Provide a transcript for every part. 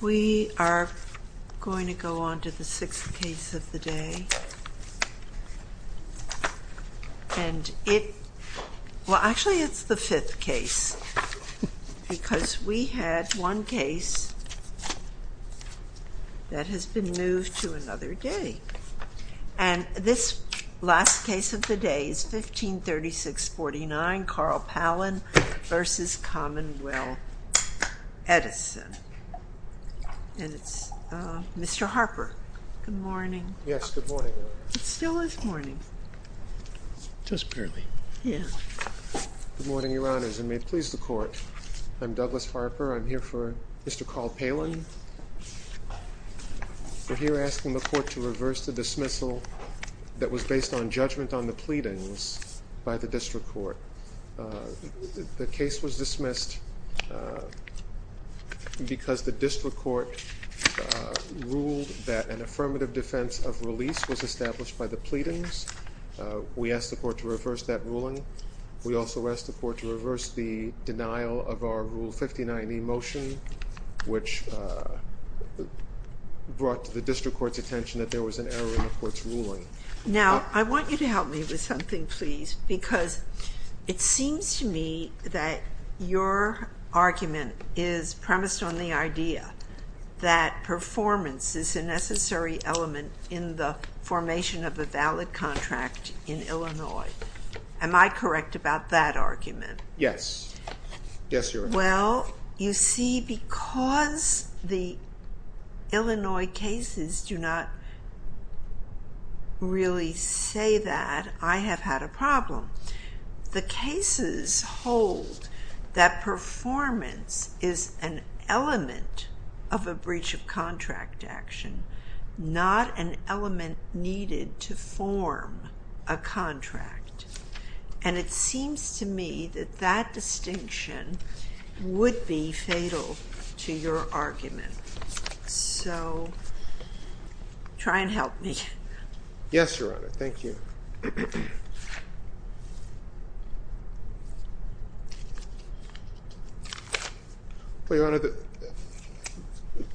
We are going to go on to the 6th case of the day, and it, well actually it's the 5th case because we had one case that has been moved to another day. And this last case of the day is 1536-49 Carl Palan v. Commonwealth Edison, and it's Mr. Harper. Good morning. Yes, good morning. It still is morning. Just barely. Yeah. Good morning, Your Honors, and may it please the Court, I'm Douglas Harper. I'm here for Mr. Carl Palan. We're here asking the Court to reverse the dismissal that was based on judgment on the pleadings by the District Court. The case was dismissed because the District Court ruled that an affirmative defense of release was established by the pleadings. We asked the Court to reverse that ruling. We also asked the Court to reverse the denial of our Rule 59e motion, which brought to the District Court's attention that there was an error in the Court's ruling. Now, I want you to help me with something, please, because it seems to me that your argument is premised on the idea that performance is a necessary element in the formation of a valid contract in Illinois. Am I correct about that argument? Yes. Yes, Your Honor. Well, you see, because the Illinois cases do not really say that, I have had a problem. The cases hold that performance is an element of a breach of contract action, not an element needed to form a contract, and it seems to me that that distinction would be fatal to your argument. So, try and help me. Yes, Your Honor. Thank you. Well, Your Honor,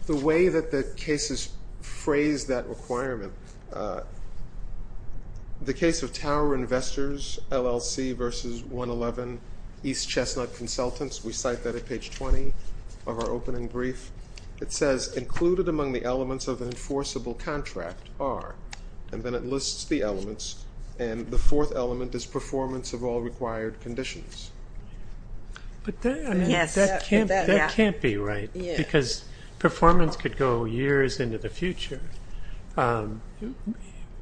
the way that the cases phrase that requirement, the case of Tower Investors, LLC versus 111 East Chestnut Consultants, we cite that at page 20 of our opening brief. It says, included among the elements of an enforceable contract are, and then it lists the elements, and the fourth element is performance of all required conditions. But that can't be right, because performance could go years into the future.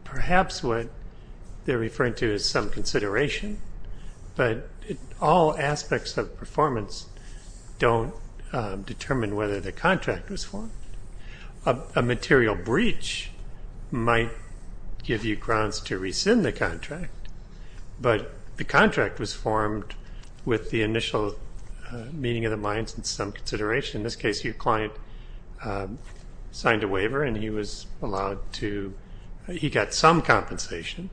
Perhaps what they're referring to is some consideration, but all aspects of performance don't determine whether the contract was formed. A material breach might give you grounds to rescind the contract, but the contract was formed with the initial meeting of the minds and some consideration. In this case, your client signed a waiver and he was allowed to, he got some compensation,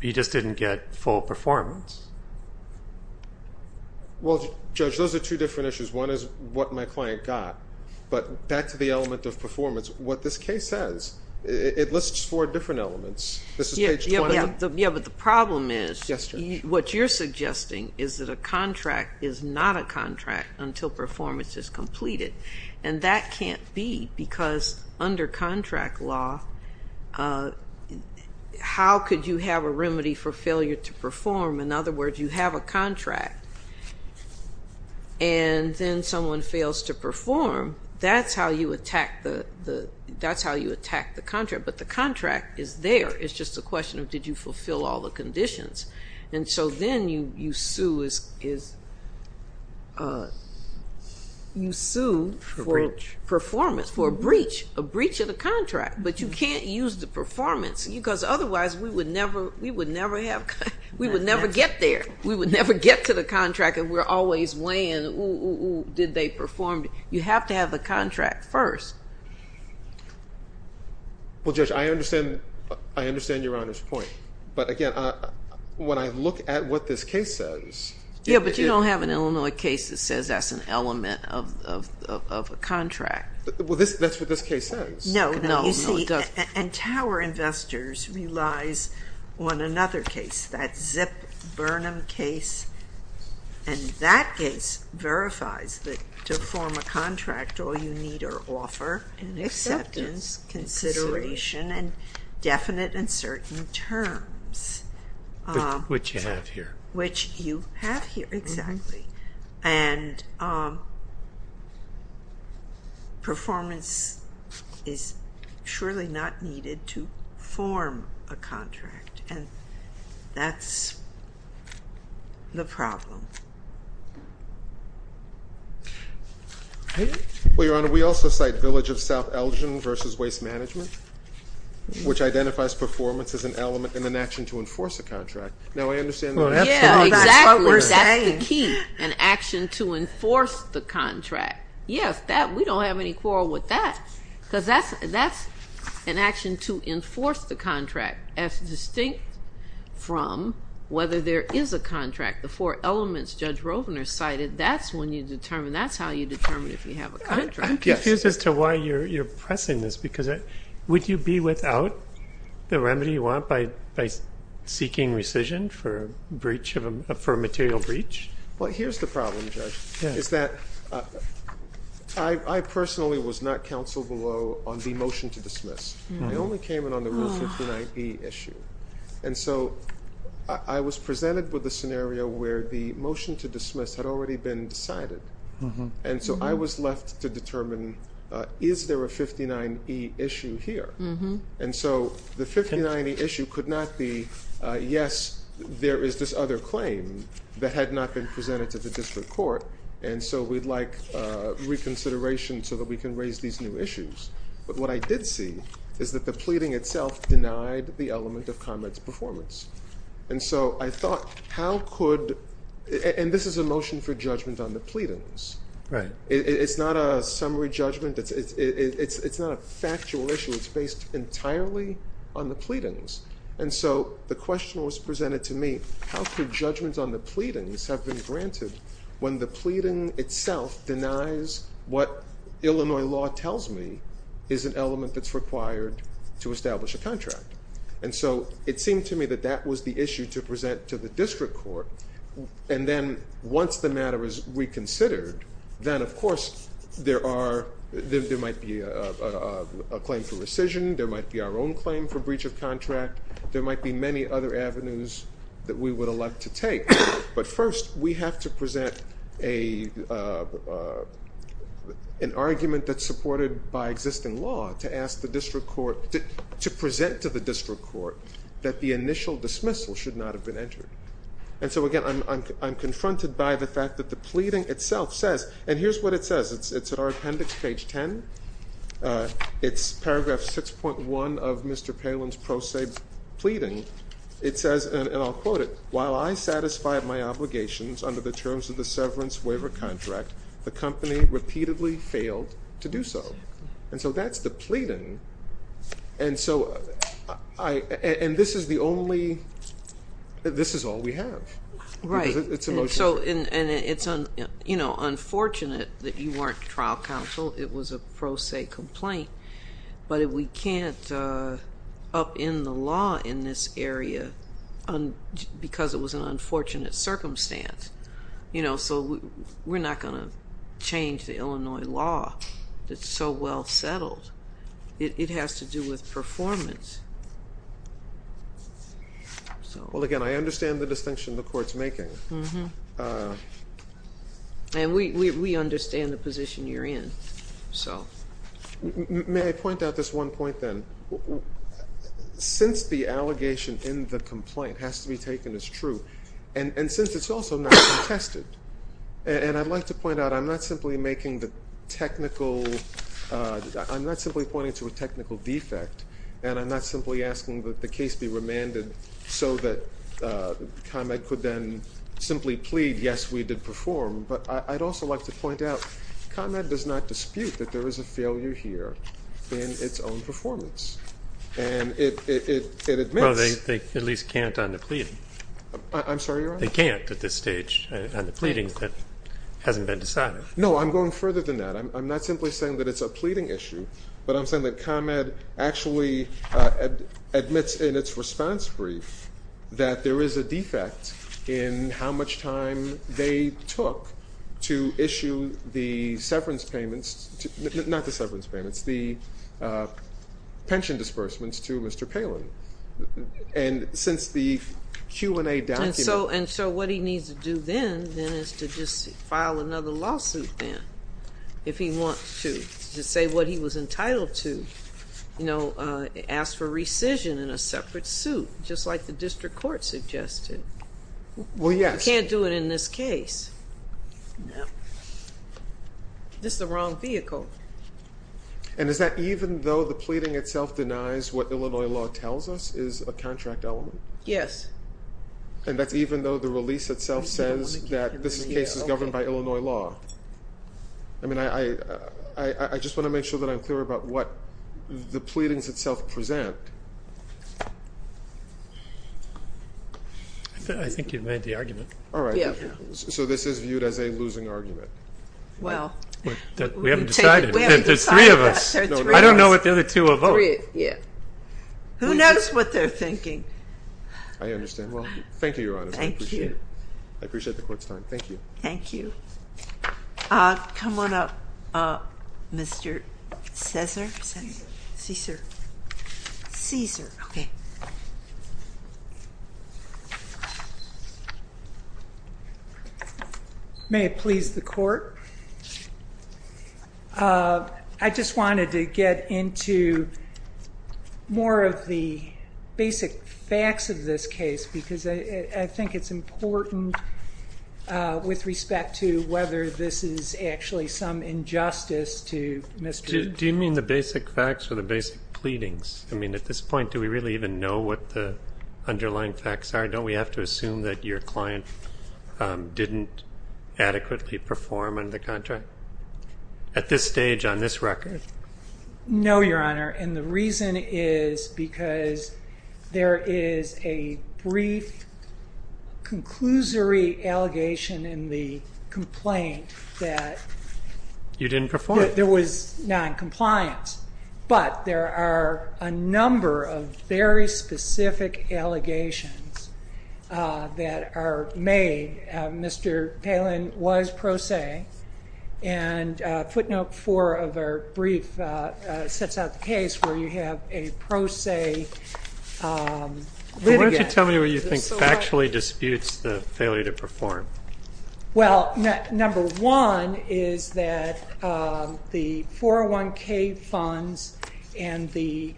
he just didn't get full performance. Well, Judge, those are two different issues. One is what my client got, but back to the element of performance, what this case says, it lists four different elements. This is page 20. Yeah, but the problem is, what you're suggesting is that a contract is not a contract until performance is completed, and that can't be, because under contract law, how could you have a remedy for failure to perform? But the contract is there. It's just a question of, did you fulfill all the conditions? And so then you sue for performance, for a breach, a breach of the contract, but you can't use the performance, because otherwise we would never get there. We would never get to the contract, and we're always weighing, did they perform? You have to have the contract first. Judge, I understand your Honor's point, but again, when I look at what this case says. Yeah, but you don't have an Illinois case that says that's an element of a contract. Well, that's what this case says. And Tower Investors relies on another case, that Zip Burnham case, and that case verifies that to form a contract, all you need are offer and acceptance, consideration, and definite and certain terms. Which you have here. Which you have here, exactly. And performance is surely not needed to form a contract, and that's the problem. Well, Your Honor, we also cite Village of South Elgin versus Waste Management, which identifies performance as an element in an action to enforce a contract. No, I understand that. Yeah, exactly. That's what we're saying. That's the key, an action to enforce the contract. Yes, we don't have any quarrel with that, because that's an action to enforce the contract, as distinct from whether there is a contract. The four elements Judge Rovner cited, that's when you determine, that's how you determine if you have a contract. I'm confused as to why you're pressing this, because would you be without the remedy you want by seeking rescission for a material breach? Well, here's the problem, Judge, is that I personally was not counseled below on the motion to dismiss. I only came in on the Rule 15ib issue. And so I was presented with a scenario where the motion to dismiss had already been decided. And so I was left to determine, is there a 59e issue here? And so the 59e issue could not be, yes, there is this other claim that had not been presented to the district court. And so we'd like reconsideration so that we can raise these new issues. But what I did see is that the pleading itself denied the element of comments performance. And so I thought, how could, and this is a motion for judgment on the pleadings. Right. It's not a summary judgment. It's not a factual issue. It's based entirely on the pleadings. And so the question was presented to me, how could judgments on the pleadings have been granted when the pleading itself denies what Illinois law tells me is an element that's required to establish a contract? And so it seemed to me that that was the issue to present to the district court. And then once the matter is reconsidered, then, of course, there might be a claim for rescission. There might be our own claim for breach of contract. There might be many other avenues that we would elect to take. But first, we have to present an argument that's supported by existing law to ask the district court, to present to the district court that the initial dismissal should not have been entered. And so, again, I'm confronted by the fact that the pleading itself says, and here's what it says. It's in our appendix, page 10. It's paragraph 6.1 of Mr. Palin's pro se pleading. It says, and I'll quote it, while I satisfied my obligations under the terms of the severance waiver contract, the company repeatedly failed to do so. And so that's the pleading. And so I, and this is the only, this is all we have. Right. It's a motion. And it's unfortunate that you weren't trial counsel. It was a pro se complaint. But we can't upend the law in this area because it was an unfortunate circumstance. You know, so we're not going to change the Illinois law that's so well settled. It has to do with performance. Well, again, I understand the distinction the court's making. And we understand the position you're in. So. May I point out this one point then? Since the allegation in the complaint has to be taken as true, and since it's also not been tested, and I'd like to point out I'm not simply making the technical, I'm not simply pointing to a technical defect, and I'm not simply asking that the case be remanded so that ComEd could then simply plead, yes, we did perform. But I'd also like to point out ComEd does not dispute that there is a failure here in its own performance. And it admits. Well, they at least can't on the pleading. I'm sorry, your Honor? They can't at this stage on the pleading that hasn't been decided. No, I'm going further than that. I'm not simply saying that it's a pleading issue, but I'm saying that ComEd actually admits in its response brief that there is a defect in how much time they took to issue the severance payments, not the severance payments, the pension disbursements to Mr. Palin. And since the Q&A document. And so what he needs to do then is to just file another lawsuit then if he wants to, to say what he was entitled to, you know, ask for rescission in a separate suit, just like the district court suggested. Well, yes. You can't do it in this case. This is the wrong vehicle. And is that even though the pleading itself denies what Illinois law tells us is a contract element? Yes. And that's even though the release itself says that this case is governed by Illinois law? I mean, I just want to make sure that I'm clear about what the pleadings itself present. I think you've made the argument. All right. So this is viewed as a losing argument. Well, we haven't decided. There's three of us. I don't know what the other two will vote. Who knows what they're thinking? I understand. Well, thank you, Your Honor. Thank you. I appreciate the court's time. Thank you. Thank you. Come on up, Mr. Cesar. Cesar. Cesar. Cesar. Okay. May it please the court. I just wanted to get into more of the basic facts of this case, because I think it's important with respect to whether this is actually some injustice to Mr. Do you mean the basic facts or the basic pleadings? I mean, at this point, do we really even know what the underlying facts are? Don't we have to assume that your client didn't adequately perform under the contract? At this stage, on this record? No, Your Honor. And the reason is because there is a brief, conclusory allegation in the complaint that there was noncompliance. But there are a number of very specific allegations that are made. Mr. Palin was pro se, and footnote four of our brief sets out the case where you have a pro se litigant. Why don't you tell me what you think factually disputes the failure to perform? Well, number one is that the 401K funds and the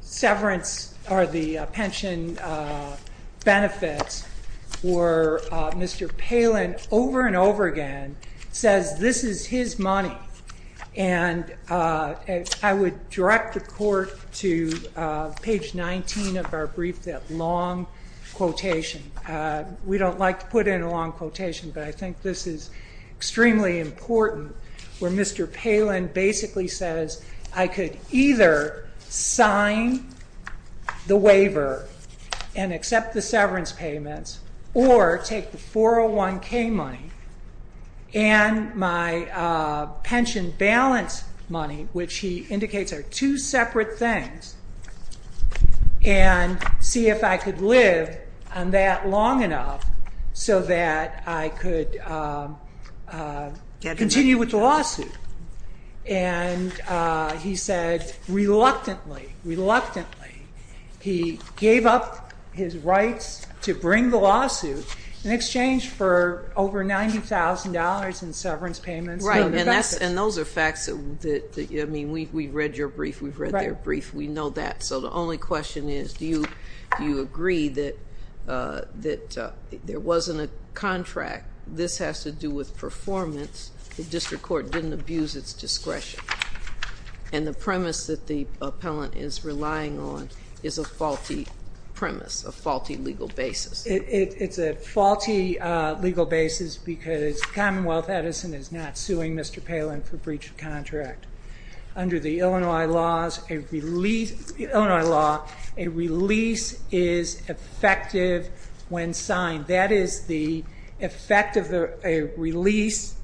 severance or the pension benefits where Mr. Palin over and over again says this is his money. And I would direct the court to page 19 of our brief, that long quotation. We don't like to put in a long quotation, but I think this is extremely important where Mr. Palin basically says, I could either sign the waiver and accept the severance payments or take the 401K money and my pension balance money, which he indicates are two separate things, and see if I could live on that long enough so that I could continue with the lawsuit. And he said reluctantly, reluctantly, he gave up his rights to bring the lawsuit in exchange for over $90,000 in severance payments. Right, and those are facts that, I mean, we've read your brief. We've read their brief. We know that. So the only question is do you agree that there wasn't a contract? This has to do with performance. The district court didn't abuse its discretion. And the premise that the appellant is relying on is a faulty premise, a faulty legal basis. It's a faulty legal basis because Commonwealth Edison is not suing Mr. Palin for breach of contract. Under the Illinois law, a release is effective when signed. That is the effect of a release,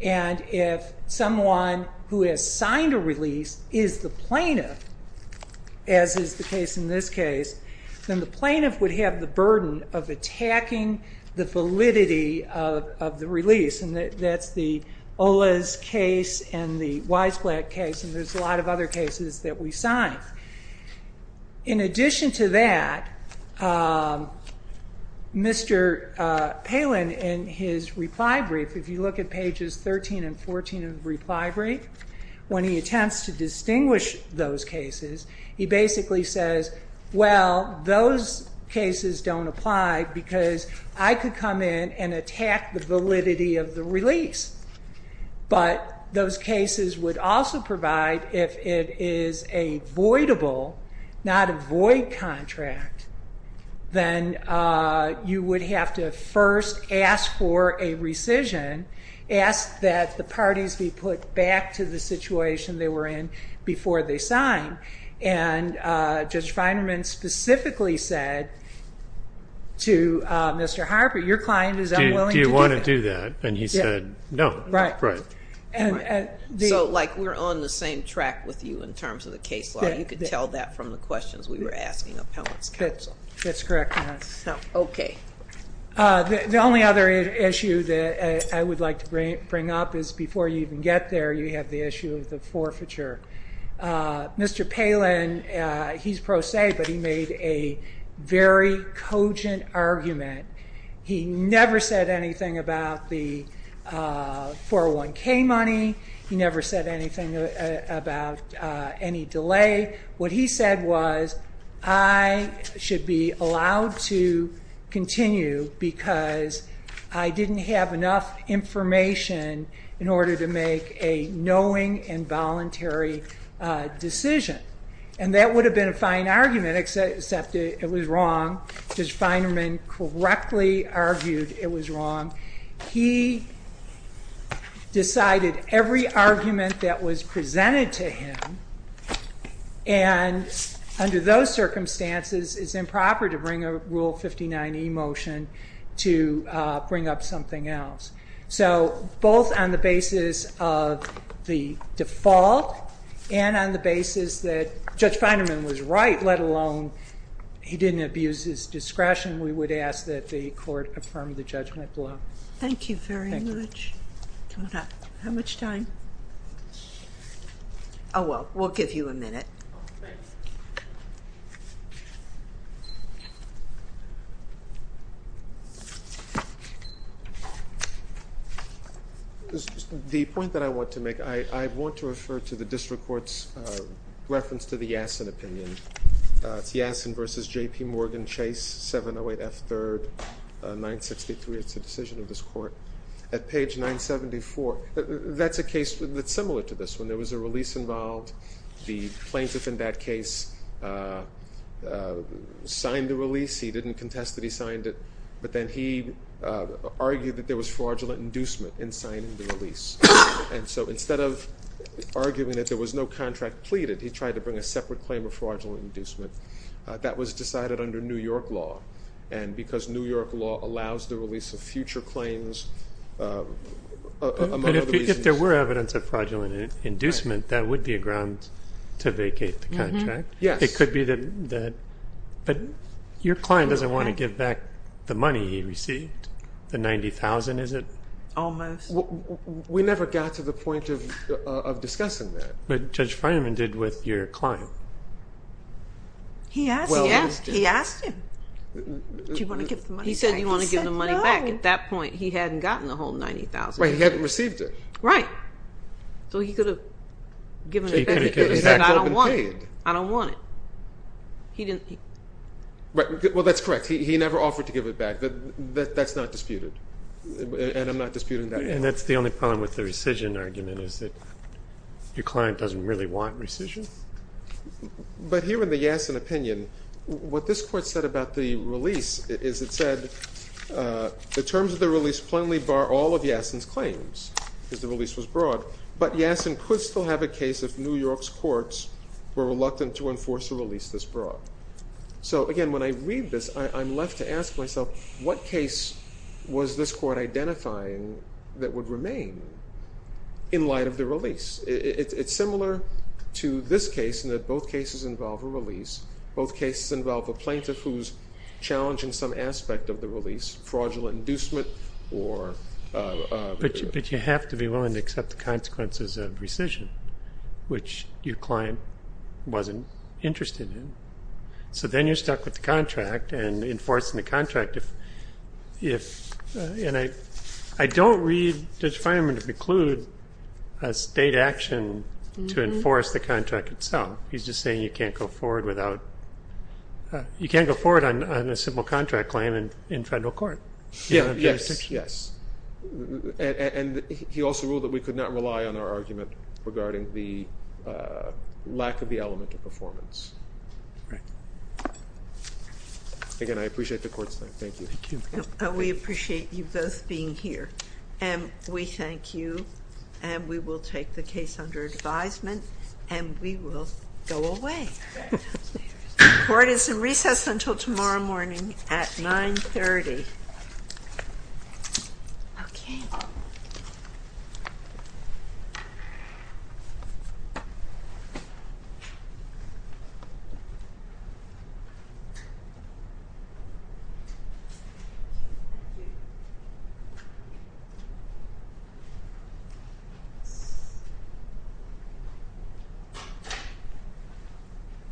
and if someone who has signed a release is the plaintiff, as is the case in this case, then the plaintiff would have the burden of attacking the validity of the release, and that's the Ola's case and the Weissblatt case, and there's a lot of other cases that we signed. In addition to that, Mr. Palin in his reply brief, if you look at pages 13 and 14 of the reply brief, when he attempts to distinguish those cases, he basically says, well, those cases don't apply because I could come in and attack the validity of the release, but those cases would also provide if it is a voidable, not a void contract, then you would have to first ask for a rescission, ask that the parties be put back to the situation they were in before they signed, and Judge Feinerman specifically said to Mr. Harper, your client is unwilling to do that. Do you want to do that? And he said no. Right. So like we're on the same track with you in terms of the case law. You could tell that from the questions we were asking appellants counsel. That's correct, ma'am. Okay. The only other issue that I would like to bring up is before you even get there, you have the issue of the forfeiture. Mr. Palin, he's pro se, but he made a very cogent argument. He never said anything about the 401K money. He never said anything about any delay. What he said was I should be allowed to continue because I didn't have enough information in order to make a knowing and voluntary decision. And that would have been a fine argument, except it was wrong. Judge Feinerman correctly argued it was wrong. He decided every argument that was presented to him, and under those circumstances, it's improper to bring a Rule 59e motion to bring up something else. So both on the basis of the default and on the basis that Judge Feinerman was right, let alone he didn't abuse his discretion, we would ask that the court affirm the judgment below. Thank you very much. How much time? Oh, well, we'll give you a minute. The point that I want to make, I want to refer to the district court's reference to the Yassin opinion. It's Yassin v. J.P. Morgan Chase, 708 F. 3rd, 963. It's a decision of this court. At page 974, that's a case that's similar to this one. There was a release involved. The plaintiff in that case signed the release. He didn't contest that he signed it. And so instead of arguing that there was no contract pleaded, he tried to bring a separate claim of fraudulent inducement. That was decided under New York law, and because New York law allows the release of future claims among other reasons. But if there were evidence of fraudulent inducement, that would be a ground to vacate the contract. Yes. It could be that, but your client doesn't want to give back the money he received, the $90,000, is it? Almost. We never got to the point of discussing that. But Judge Fineman did with your client. He asked him. Do you want to give the money back? He said no. He said you want to give the money back. At that point, he hadn't gotten the whole $90,000. He hadn't received it. Right. So he could have given it back. He could have said I don't want it. I don't want it. Well, that's correct. He never offered to give it back. That's not disputed, and I'm not disputing that at all. And that's the only problem with the rescission argument, is that your client doesn't really want rescission? But here in the Yassin opinion, what this court said about the release is it said, the terms of the release plainly bar all of Yassin's claims because the release was broad. But Yassin could still have a case if New York's courts were reluctant to enforce a release this broad. So, again, when I read this, I'm left to ask myself what case was this court identifying that would remain in light of the release? It's similar to this case in that both cases involve a release. Both cases involve a plaintiff who's challenging some aspect of the release, fraudulent inducement or ---- But you have to be willing to accept the consequences of rescission, which your client wasn't interested in. So then you're stuck with the contract and enforcing the contract. And I don't read Judge Finerman to preclude a state action to enforce the contract itself. He's just saying you can't go forward on a simple contract claim in federal court. Yes, yes. And he also ruled that we could not rely on our argument regarding the lack of the element of performance. Again, I appreciate the court's time. Thank you. We appreciate you both being here. And we thank you. And we will take the case under advisement. And we will go away. The court is in recess until tomorrow morning at 930. Thank you.